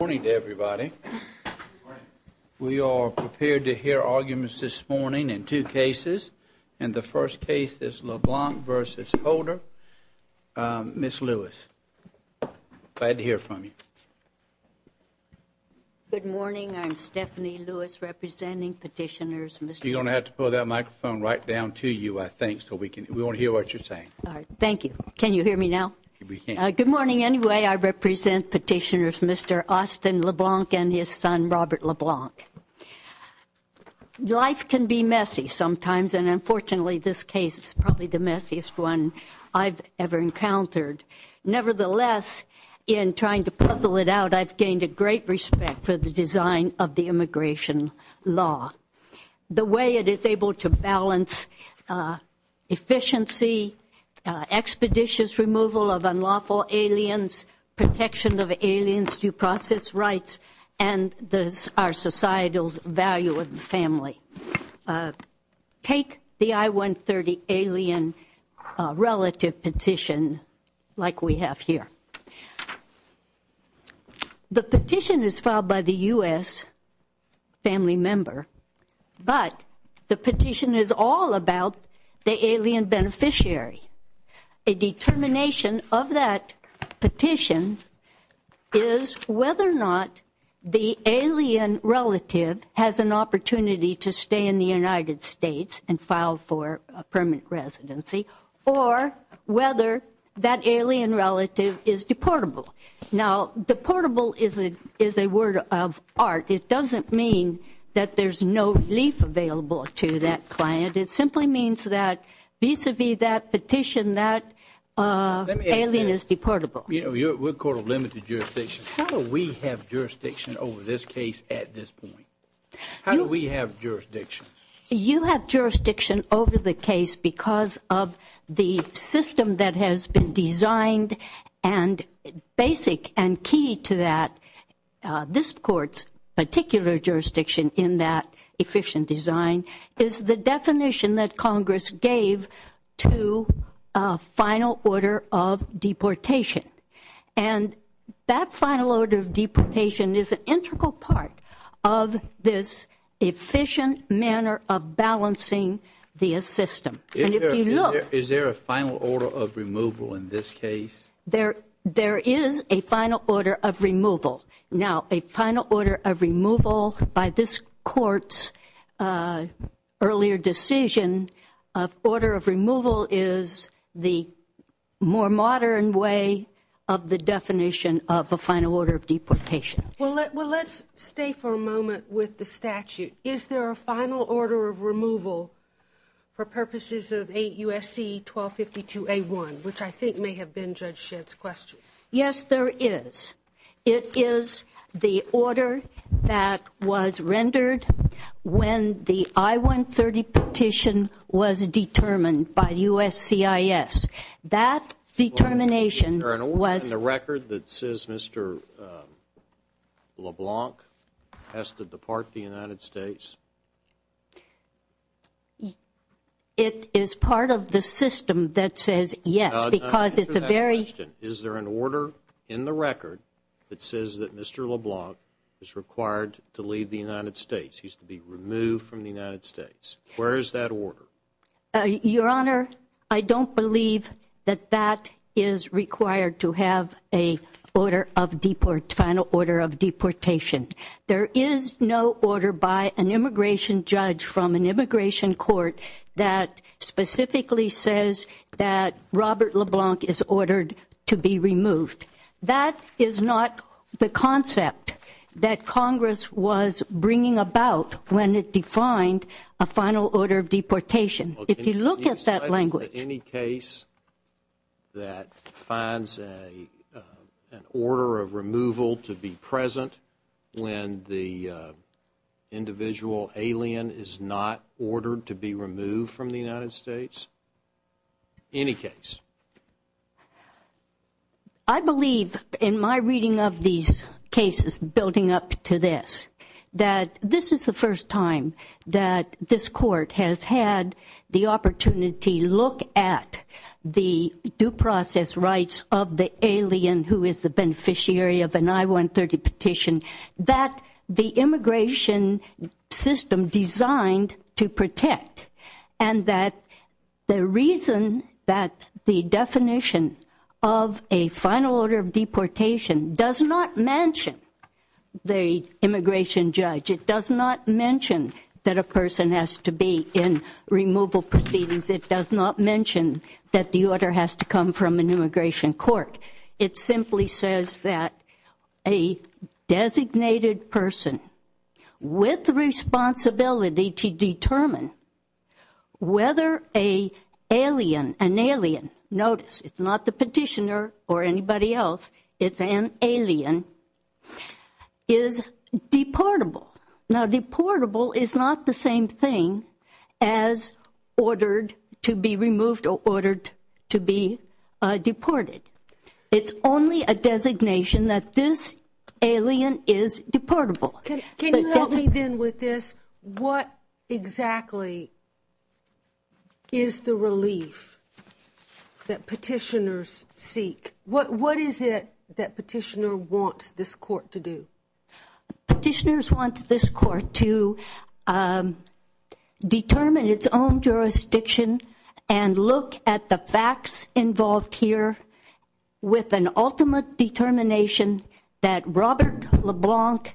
Good morning to everybody. We are prepared to hear arguments this morning in two cases, and the first case is LeBlanc v. Holder. Ms. Lewis, glad to hear from you. Good morning, I'm Stephanie Lewis, representing petitioners, Mr. You're going to have to pull that microphone right down to you, I think, so we can, we want to hear what you're saying. All right, thank you. Can you hear me now? We can. Good morning anyway, I represent petitioners, Mr. Austin LeBlanc and his son, Robert LeBlanc. Life can be messy sometimes, and unfortunately, this case is probably the messiest one I've ever encountered. Nevertheless, in trying to puzzle it out, I've gained a great respect for the design of the immigration law. The way it is able to balance efficiency, expeditious removal of unlawful aliens, protection of aliens' due process rights, and our societal value of the family. Take the I-130 alien relative petition like we have here. The petition is filed by the US family member, but the petition is all about the alien beneficiary. A determination of that petition is whether or not the alien relative has an opportunity to stay in the United States and Now, deportable is a word of art. It doesn't mean that there's no relief available to that client. It simply means that vis-a-vis that petition, that alien is deportable. We're a court of limited jurisdiction. How do we have jurisdiction over this case at this point? How do we have jurisdiction? You have jurisdiction over the case because of the system that has been designed and basic and key to that. This court's particular jurisdiction in that efficient design is the definition that Congress gave to a final order of deportation. And that final order of deportation is an integral part of this efficient manner of balancing the system. And if you look- Is there a final order of removal in this case? There is a final order of removal. Now, a final order of removal by this court's earlier decision, a order of removal is the more modern way of the definition of a final order of deportation. Well, let's stay for a moment with the statute. Is there a final order of removal for purposes of 8 U.S.C. 1252 A1, which I think may have been Judge Shedd's question? Yes, there is. It is the order that was rendered when the I-130 petition was determined by the U.S.C.I.S. That determination was- Is there an order in the record that says Mr. LeBlanc has to depart the United States? It is part of the system that says yes, because it's a very- It says that Mr. LeBlanc is required to leave the United States. He's to be removed from the United States. Where is that order? Your Honor, I don't believe that that is required to have a final order of deportation. There is no order by an immigration judge from an immigration court that specifically says that Robert LeBlanc is ordered to be removed. That is not the concept that Congress was bringing about when it defined a final order of deportation. If you look at that language- Any case that finds an order of removal to be present when the individual alien is not ordered to be removed from the United States? Any case? I believe in my reading of these cases, building up to this, that this is the first time that this court has had the opportunity to look at the due process rights of the alien who is the beneficiary of an I-130 petition that the immigration system designed to protect. And that the reason that the definition of a final order of deportation does not mention the immigration judge, it does not mention that a person has to be in removal proceedings, it does not mention that the order has to come from an immigration court. It simply says that a designated person with the responsibility to determine whether a alien, an alien, notice it's not the petitioner or anybody else, it's an alien, is deportable. Now deportable is not the same thing as ordered to be removed or ordered to be deported. It's only a designation that this alien is deportable. Can you help me then with this? What exactly is the relief that petitioners seek? What is it that petitioner wants this court to do? Petitioners want this court to determine its own jurisdiction and look at the facts involved here with an ultimate determination that Robert LeBlanc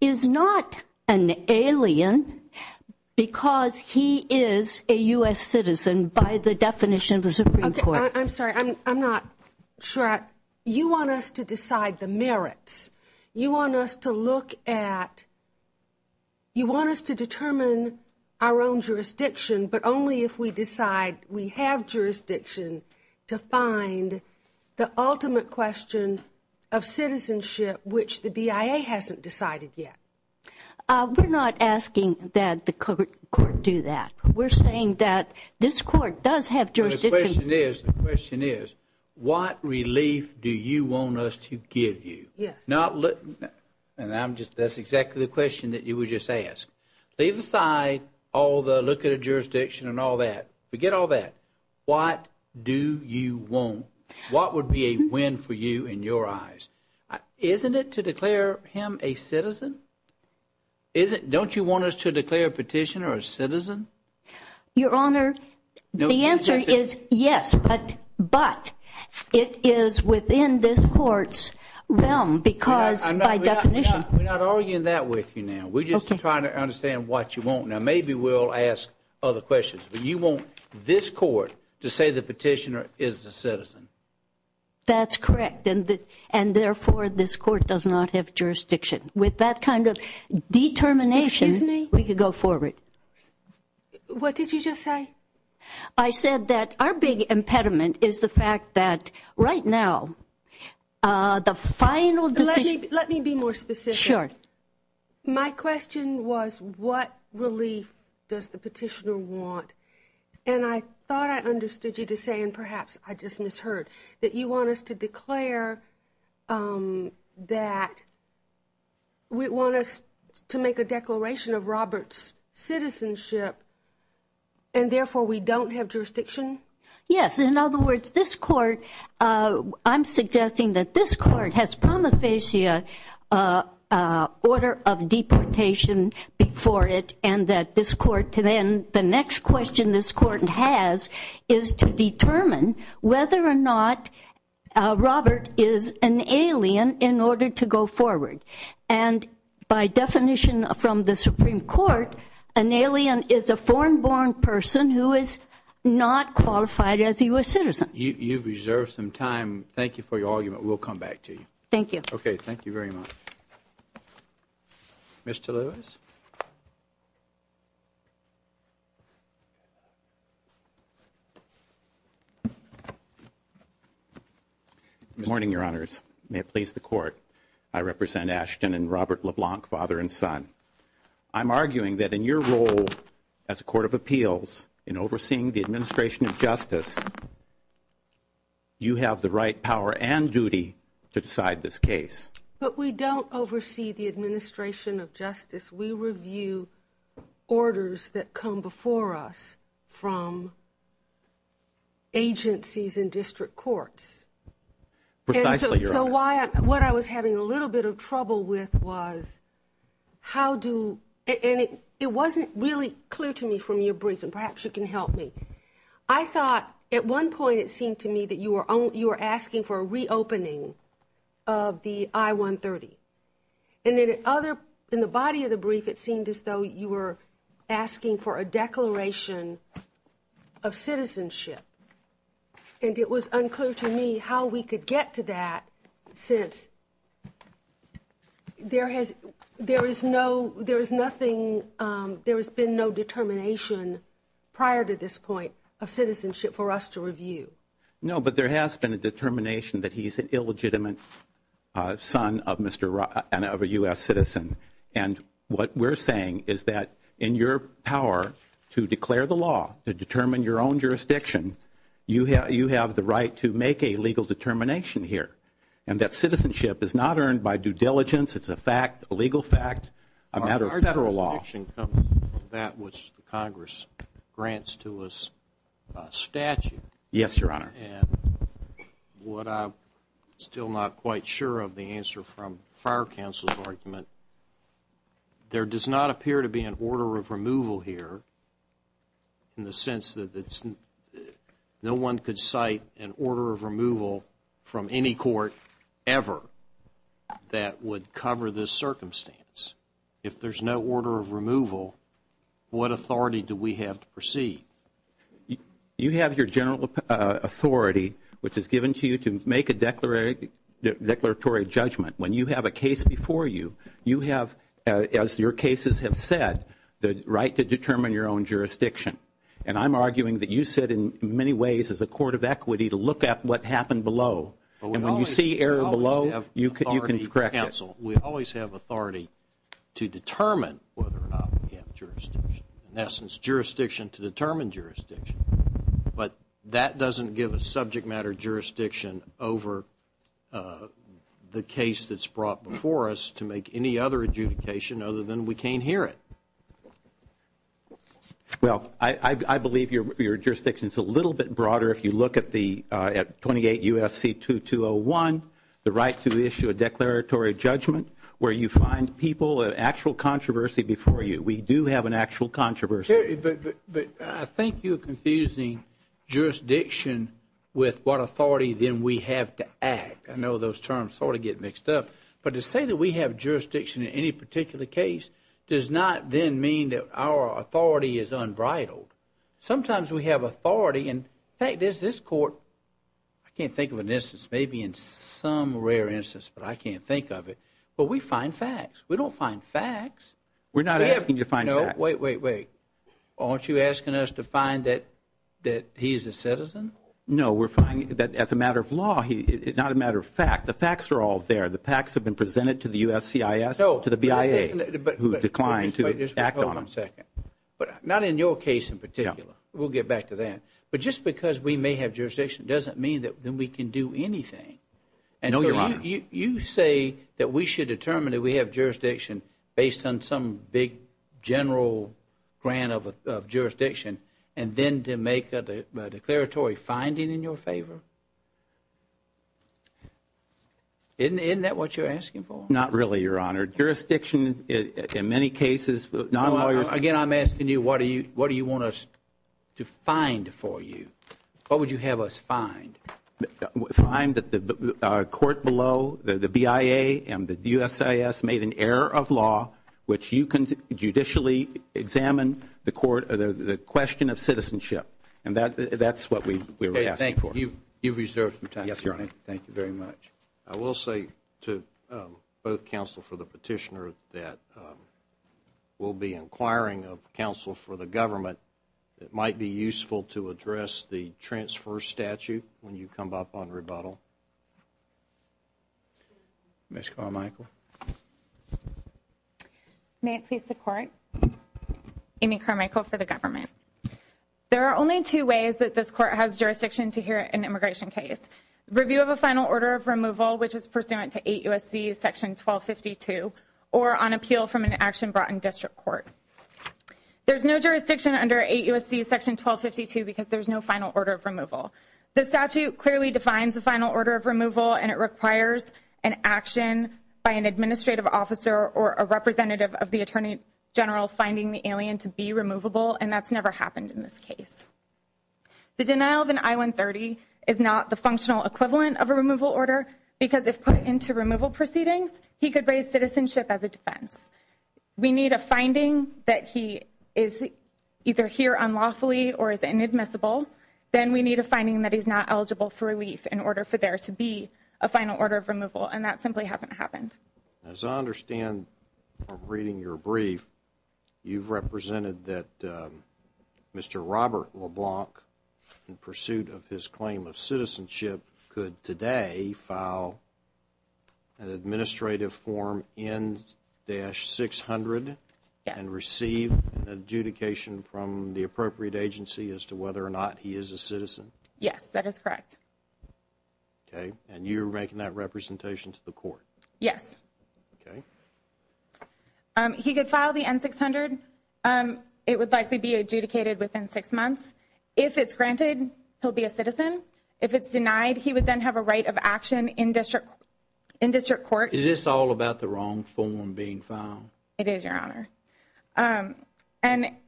is not an alien because he is a US citizen by the definition of the Supreme Court. I'm sorry, I'm not sure. You want us to decide the merits. You want us to look at, you want us to determine our own jurisdiction, but only if we decide we have jurisdiction to find the ultimate question of citizenship, which the BIA hasn't decided yet. We're not asking that the court do that. We're saying that this court does have jurisdiction. The question is, the question is, what relief do you want us to give you? Not look, and that's exactly the question that you would just ask. Leave aside all the look at a jurisdiction and all that. Forget all that. What do you want? What would be a win for you in your eyes? Isn't it to declare him a citizen? Don't you want us to declare a petitioner a citizen? Your Honor, the answer is yes, but it is within this court's realm because by definition. We're not arguing that with you now. We're just trying to understand what you want. Now, maybe we'll ask other questions, but you want this court to say the petitioner is a citizen. That's correct, and therefore this court does not have jurisdiction. With that kind of determination, we could go forward. What did you just say? I said that our big impediment is the fact that right now, the final decision. Let me be more specific. Sure. My question was, what relief does the petitioner want? And I thought I understood you to say, and perhaps I just misheard, that you want us to declare that we want us to make a declaration of Robert's citizenship, and therefore we don't have jurisdiction? Yes, in other words, this court, I'm suggesting that this court has prima facie order of deportation before it, and that this court today, and the next question this court has is to determine whether or not Robert is an alien in order to go forward. And by definition from the Supreme Court, an alien is a foreign born person who is not qualified as a US citizen. You've reserved some time. Thank you for your argument. We'll come back to you. Thank you. Okay, thank you very much. Mr. Lewis? Good morning, your honors. May it please the court. I represent Ashton and Robert LeBlanc, father and son. I'm arguing that in your role as a court of appeals, in overseeing the administration of justice, you have the right power and duty to decide this case. But we don't oversee the administration of justice. We review orders that come before us from agencies and district courts. Precisely, your honor. So what I was having a little bit of trouble with was how do, and it wasn't really clear to me from your brief, and perhaps you can help me. I thought at one point it seemed to me that you were asking for a reopening of the I-130. And then at other, in the body of the brief, it seemed as though you were asking for a declaration of citizenship. And it was unclear to me how we could get to that since there has, there is no, there is nothing, there has been no determination prior to this point of citizenship for us to review. No, but there has been a determination that he's an illegitimate son of a US citizen. And what we're saying is that in your power to declare the law, to determine your own jurisdiction, you have the right to make a legal determination here. And that citizenship is not earned by due diligence, it's a fact, a legal fact, a matter of federal law. The question comes from that which Congress grants to us a statute. Yes, your honor. And what I'm still not quite sure of the answer from fire counsel's argument, there does not appear to be an order of removal here in the sense that no one could cite an order of removal from any court ever that would cover this circumstance. If there's no order of removal, what authority do we have to proceed? You have your general authority which is given to you to make a declaratory judgment. When you have a case before you, you have, as your cases have said, the right to determine your own jurisdiction. And I'm arguing that you sit in many ways as a court of equity to look at what happened below. And when you see error below, you can correct it. We always have authority to determine whether or not we have jurisdiction. In essence, jurisdiction to determine jurisdiction. But that doesn't give a subject matter jurisdiction over the case that's brought before us to make any other adjudication other than we can't hear it. Well, I believe your jurisdiction is a little bit broader if you look at 28 U.S.C. 2201, the right to issue a declaratory judgment, where you find people, an actual controversy before you. We do have an actual controversy. But I think you're confusing jurisdiction with what authority then we have to act. I know those terms sort of get mixed up. But to say that we have jurisdiction in any particular case does not then mean that our authority is unbridled. Sometimes we have authority. In fact, this court, I can't think of an instance, maybe in some rare instance, but I can't think of it. But we find facts. We don't find facts. We're not asking you to find facts. Wait, wait, wait. Aren't you asking us to find that he's a citizen? No, we're finding that as a matter of law, not a matter of fact. The facts are all there. The facts have been presented to the U.S.C.I.S., to the BIA, who declined to act on them. Wait just one second. But not in your case in particular. We'll get back to that. But just because we may have jurisdiction doesn't mean that then we can do anything. No, Your Honor. You say that we should determine that we have jurisdiction based on some big general grant of jurisdiction and then to make a declaratory finding in your favor. Isn't that what you're asking for? Not really, Your Honor. Jurisdiction in many cases, non-lawyers... Again, I'm asking you, what do you want us to find for you? What would you have us find? Find that the court below, the BIA and the U.S.C.I.S. made an error of law which you can judicially examine the court, the question of citizenship. And that's what we're asking for. You've reserved some time, Your Honor. Thank you very much. I will say to both counsel for the petitioner that we'll be inquiring of counsel for the government. It might be useful to address the transfer statute when you come up on rebuttal. Ms. Carmichael. May it please the court. Amy Carmichael for the government. There are only two ways that this court has jurisdiction to hear an immigration case. Review of a final order of removal which is pursuant to 8 U.S.C.S. 1252 or on appeal from an action brought in district court. There's no jurisdiction under 8 U.S.C.S. 1252 because there's no final order of removal. The statute clearly defines a final order of removal and it requires an action by an administrative officer or a representative of the attorney general finding the alien to be removable and that's never happened in this case. The denial of an I-130 is not the functional equivalent of a removal order because if put into removal proceedings he could raise citizenship as a defense. We need a finding that he is either here unlawfully or is inadmissible. Then we need a finding that he's not eligible for relief in order for there to be a final order of removal and that simply hasn't happened. As I understand from reading your brief, you've represented that Mr. Robert LeBlanc, in pursuit of his claim of citizenship, could today file an administrative form N-600 and receive an adjudication from the appropriate agency as to whether or not he is a citizen? Yes, that is correct. Okay, and you're making that representation to the court? Yes. Okay. He could file the N-600. It would likely be adjudicated within six months. If it's granted, he'll be a citizen. If it's denied, he would then have a right of action in district court. Is this all about the wrong form being filed? It is, Your Honor. And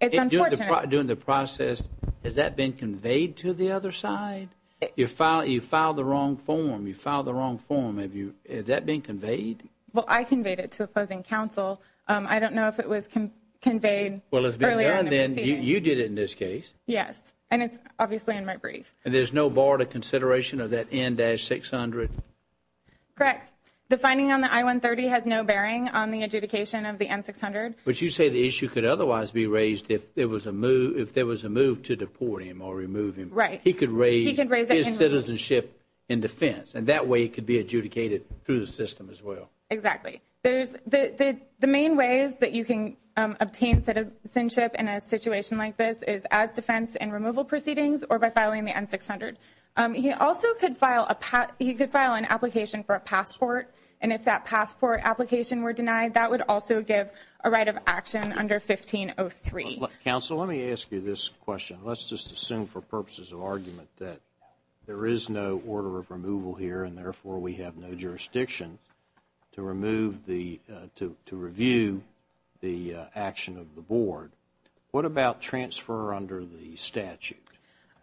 it's unfortunate... During the process, has that been conveyed to the other side? You filed the wrong form. You filed the wrong form. Have you... Has that been conveyed? Well, I conveyed it to opposing counsel. I don't know if it was conveyed earlier in the proceeding. You did it in this case. Yes, and it's obviously in my brief. And there's no border consideration of that N-600? Correct. The finding on the I-130 has no bearing on the adjudication of the N-600. But you say the issue could otherwise be raised if there was a move to deport him or remove him. Right. He could raise his citizenship in defense, and that way he could be adjudicated through the system as well. Exactly. The main ways that you can obtain citizenship in a situation like this is as defense in removal proceedings or by filing the N-600. He also could file an application for a passport. And if that passport application were denied, that would also give a right of action under 1503. Counsel, let me ask you this question. Let's just assume for purposes of argument that there is no order of removal here, and therefore we have no jurisdiction to review the action of the board. What about transfer under the statute?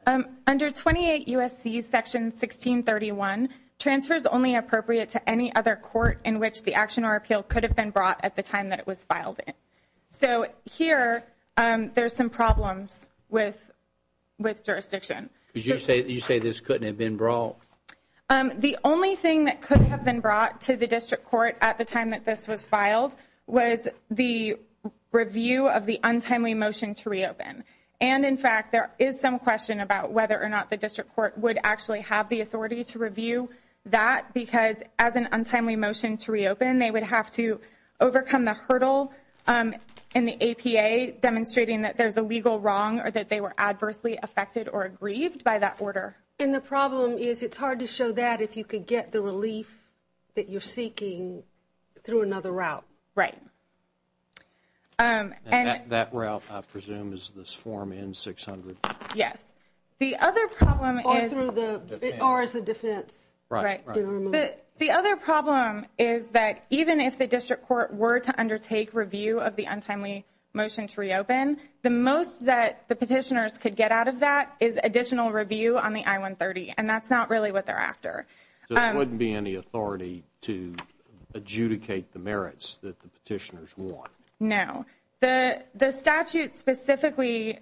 Under 28 U.S.C. Section 1631, transfer is only appropriate to any other court in which the action or appeal could have been brought at the time that it was filed. So here, there's some problems with jurisdiction. You say this couldn't have been brought? The only thing that could have been brought to the district court at the time that this was filed was the review of the untimely motion to reopen. And in fact, there is some question about whether or not the district court would actually have the authority to review that because as an untimely motion to reopen, they would have to overcome the in the APA demonstrating that there's a legal wrong or that they were adversely affected or aggrieved by that order. And the problem is it's hard to show that if you could get the relief that you're seeking through another route. Right. And that route, I presume, is this form N-600? Yes. The other problem is... Or through the... Or as a defense. Right. The other problem is that even if the district court were to undertake review of the untimely motion to reopen, the most that the petitioners could get out of that is additional review on the I-130. And that's not really what they're after. So there wouldn't be any authority to adjudicate the merits that the petitioners want? No. The statute specifically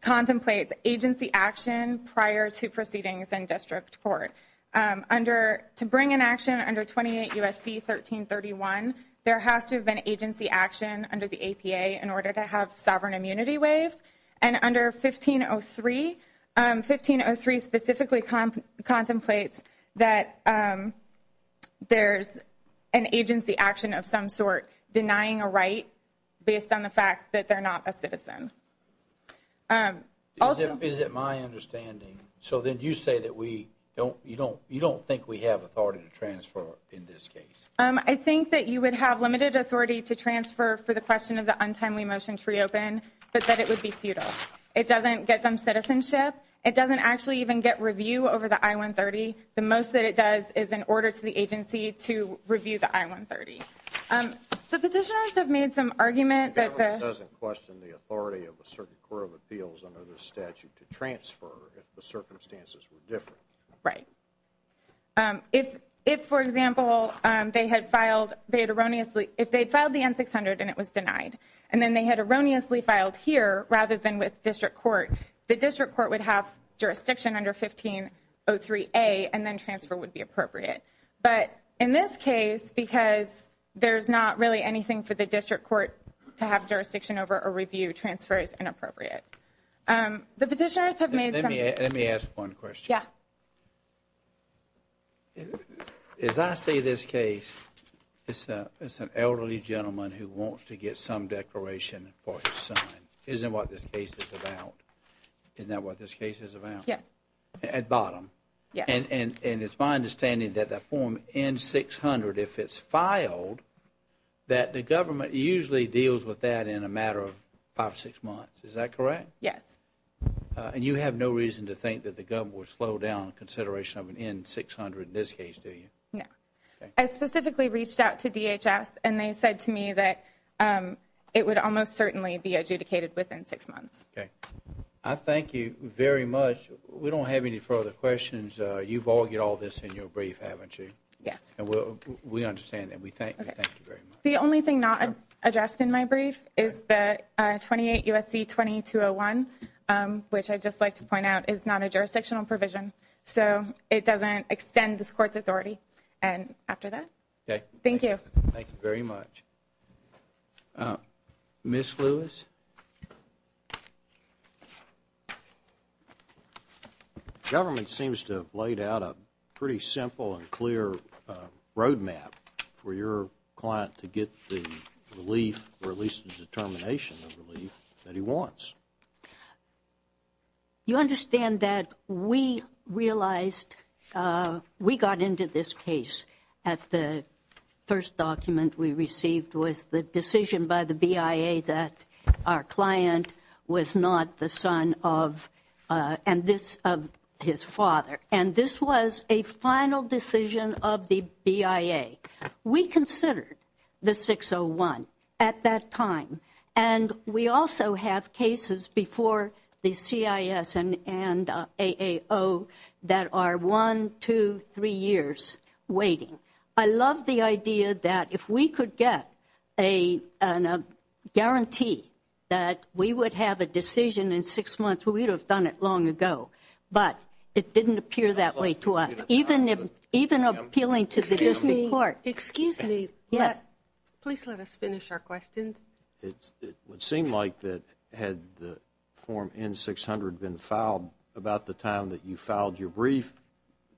contemplates agency action prior to proceedings in district court. To bring an action under 28 U.S.C. 1331, there has to have been agency action under the APA in order to have sovereign immunity waived. And under 1503, 1503 specifically contemplates that there's an agency action of some sort denying a right based on the fact that they're not a citizen. Is it my understanding? So then you say that we don't... You don't think we have authority to transfer in this case? I think that you would have limited authority to transfer for the question of the untimely motion to reopen, but that it would be futile. It doesn't get them citizenship. It doesn't actually even get review over the I-130. The most that it does is an order to the agency to review the I-130. The petitioners have made some argument that... The government doesn't question the authority of a certain court of appeals under the statute to transfer if the circumstances were different. Right. If, for example, they had filed... They had erroneously... If they'd filed the N-600 and it was denied, and then they had erroneously filed here, rather than with district court, the district court would have jurisdiction under 1503A and then transfer would be appropriate. But in this case, because there's not really anything for the district court to have jurisdiction over a review, transfer is inappropriate. The petitioners have made some... Let me ask one question. Yeah. As I see this case, it's an elderly gentleman who wants to get some declaration for his son. Isn't what this case is about? Isn't that what this case is about? Yes. At bottom? Yeah. And it's my understanding that the form N-600, if it's filed, that the government usually deals with that in a matter of five or six months. Is that correct? Yes. And you have no reason to think that the government would slow down consideration of an N-600 in this case, do you? No. I specifically reached out to DHS and they said to me that it would almost certainly be adjudicated within six months. Okay. I thank you very much. We don't have any further questions. You've all got all this in your brief, haven't you? Yes. We understand that. We thank you very much. The only thing not addressed in my brief is that 28 U.S.C. 2201, which I'd just like to point out, is not a jurisdictional provision. So it doesn't extend this Court's authority. And after that, thank you. Thank you very much. Ms. Lewis? Government seems to have laid out a pretty simple and clear road map for your client to get the relief, or at least the determination of relief, that he wants. You understand that we realized, we got into this case at the first document we received with the decision by the BIA that our client was not the son of, and this, of his father. And this was a final decision of the BIA. We considered the 601 at that time. And we also have cases before the CIS and AAO that are one, two, three years waiting. I love the idea that if we could get a guarantee that we would have a decision in six months, we would have done it long ago. But it didn't appear that way to us. Even appealing to the District Court. Excuse me. Yes. Please let us finish our questions. It would seem like that had the form N-600 been filed about the time that you filed your brief,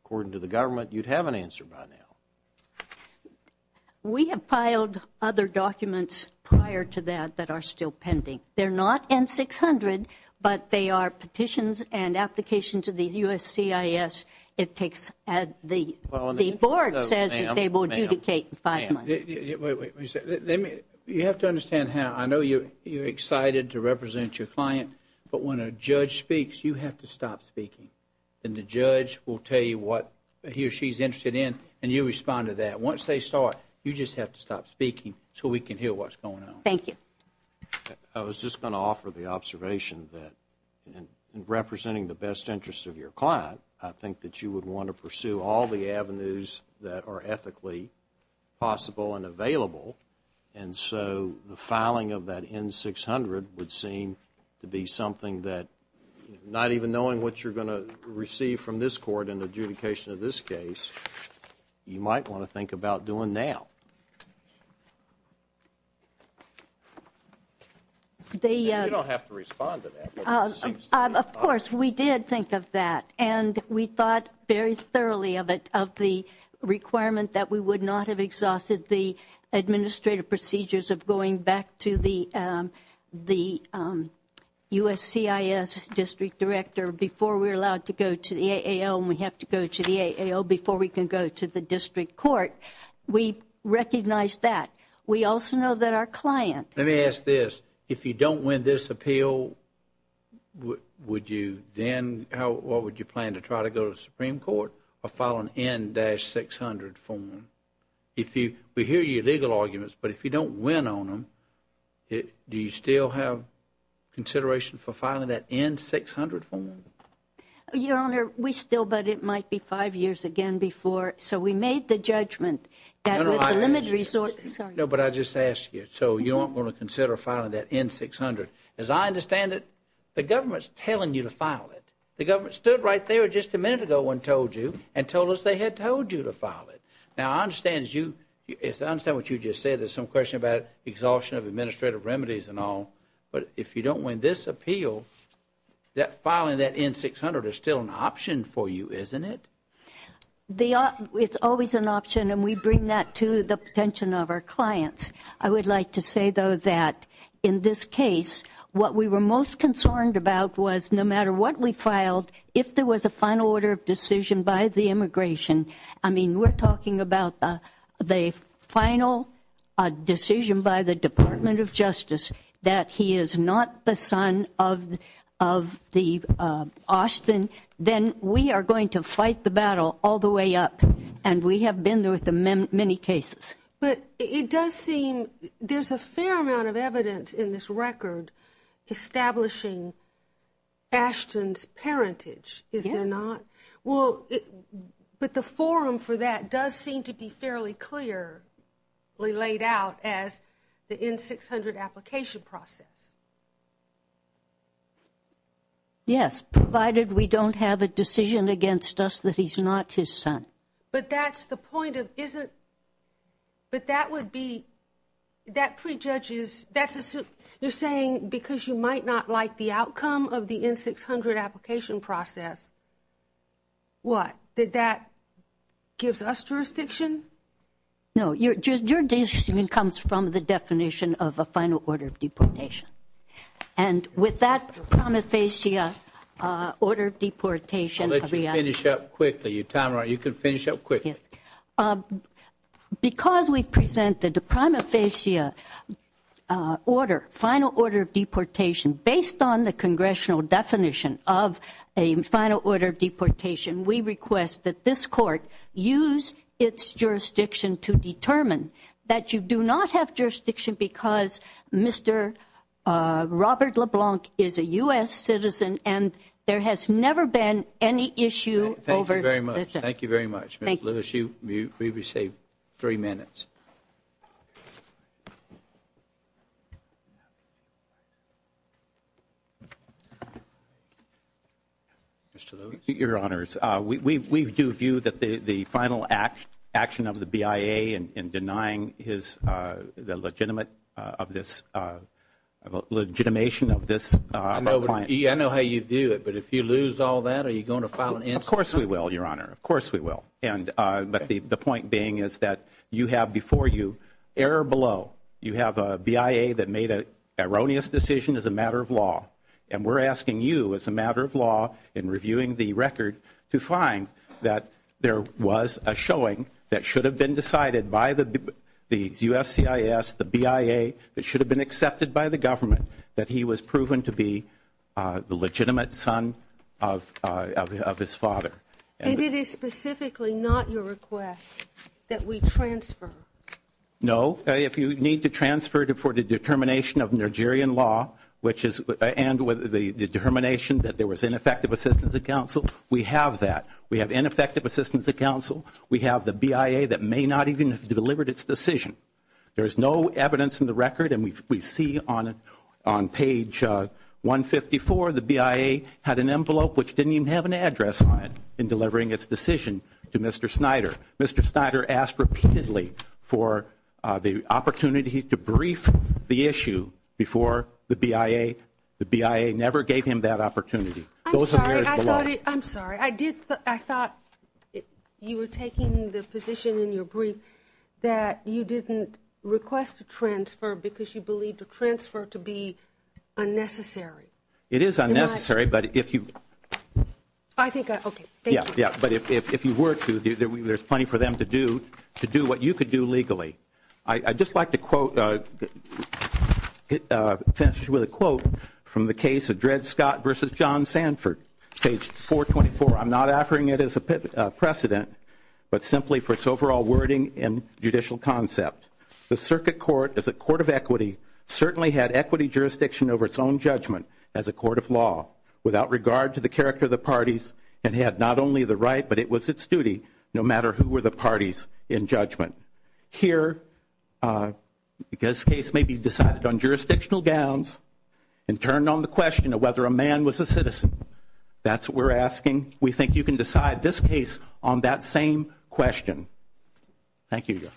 according to the government, you'd have an answer by now. We have filed other documents prior to that that are still pending. They're not N-600, but they are petitions and applications to the USCIS. It takes, the board says that they will adjudicate in five months. Ma'am, ma'am, ma'am, wait a minute. You have to understand how, I know you're excited to represent your client, but when a judge speaks, you have to stop speaking. And the judge will tell you what he or she's interested in, and you respond to that. Once they start, you just have to stop speaking so we can hear what's going on. Thank you. I was just going to offer the observation that in representing the best interest of your client, I think that you would want to pursue all the avenues that are ethically possible and available. And so, the filing of that N-600 would seem to be something that, not even knowing what you're going to receive from this court in adjudication of this case, you might want to think about doing now. You don't have to respond to that. Of course, we did think of that. And we thought very thoroughly of it, of the requirement that we would not have exhausted the administrative procedures of going back to the USCIS district director before we're allowed to go to the AAL and we have to go to the AAL before we can go to the district court. We recognize that. We also know that our client Let me ask this. If you don't win this appeal, would you then, what would you plan to try to go to the Supreme Court or file an N-600 form? We hear your legal arguments, but if you don't win on them, do you still have consideration for filing that N-600 form? Your Honor, we still, but it might be five years again before. So, we made the judgment that with the limited resource No, but I just asked you. So, you aren't going to consider filing that N-600. As I understand it, the government's telling you to file it. The government stood right there just a minute ago and told you and told us they had told you to file it. Now, I understand what you just said. There's some question about exhaustion of administrative remedies and all. But if you don't win this appeal, that filing that N-600 is still an option for you, isn't it? It's always an option and we bring that to the attention of our clients. I would like to say, though, that in this case, what we were most concerned about was no matter what we filed, if there was a final order of decision by the immigration, I mean, we're talking about the final decision by the Department of Justice that he is not the son of the Austin, then we are going to fight the battle all the way up. And we have been there with many cases. But it does seem there's a fair amount of evidence in this record establishing Ashton's parentage, is there not? Well, but the forum for that does seem to be fairly clearly laid out as the N-600 application process. Yes, provided we don't have a decision against us that he's not his son. But that's the point of, isn't, but that would be, that prejudges, that's a, you're saying because you might not like the outcome of the N-600 application process, what, that that gives us jurisdiction? No, your decision comes from the definition of a final order of deportation. And with that promethacea order of deportation. I'll let you finish up quickly. Tamara, you can finish up quickly. Yes. Because we've presented a promethacea order, final order of deportation, based on the congressional definition of a final order of deportation, we request that this court use its jurisdiction to determine that you do not have jurisdiction because Mr. Robert LeBlanc is a U.S. citizen and there has never been any issue over. Thank you very much. Mr. Lewis, you've received three minutes. Mr. Lewis? Your Honors, we do view that the final action of the BIA in denying his, the legitimate of this, the legitimation of this. I know how you view it, but if you lose all that, are you going to file an incident? Of course we will, your Honor. Of course we will. And, but the point being is that you have before you, error below, you have a BIA that made an erroneous decision as a matter of law. And we're asking you as a matter of law, in reviewing the record, to find that there was a showing that should have been decided by the USCIS, the BIA, that should have been And it is specifically not your request that we transfer? No. If you need to transfer for the determination of Nigerian law, which is, and the determination that there was ineffective assistance of counsel, we have that. We have ineffective assistance of counsel. We have the BIA that may not even have delivered its decision. There is no evidence in the record, and we see on page 154, the BIA had an envelope which didn't even have an address on it in delivering its decision to Mr. Snyder. Mr. Snyder asked repeatedly for the opportunity to brief the issue before the BIA. The BIA never gave him that opportunity. I'm sorry. I'm sorry. I did. I thought you were taking the position in your brief that you didn't request a transfer because you believed a transfer to be unnecessary. It is unnecessary, but if you. I think, okay, thank you. Yeah, yeah, but if you were to, there's plenty for them to do what you could do legally. I'd just like to quote, finish with a quote from the case of Dred Scott versus John Sanford, page 424. I'm not offering it as a precedent, but simply for its overall wording and judicial concept. The circuit court is a court of equity, certainly had equity jurisdiction over its own judgment as a court of law without regard to the character of the parties, and had not only the right, but it was its duty, no matter who were the parties in judgment. Here, this case may be decided on jurisdictional gowns and turned on the question of whether a man was a citizen. That's what we're asking. We think you can decide this case on that same question. Thank you.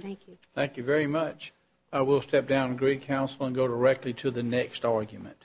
Thank you. Thank you very much. I will step down and agree counsel and go directly to the next argument.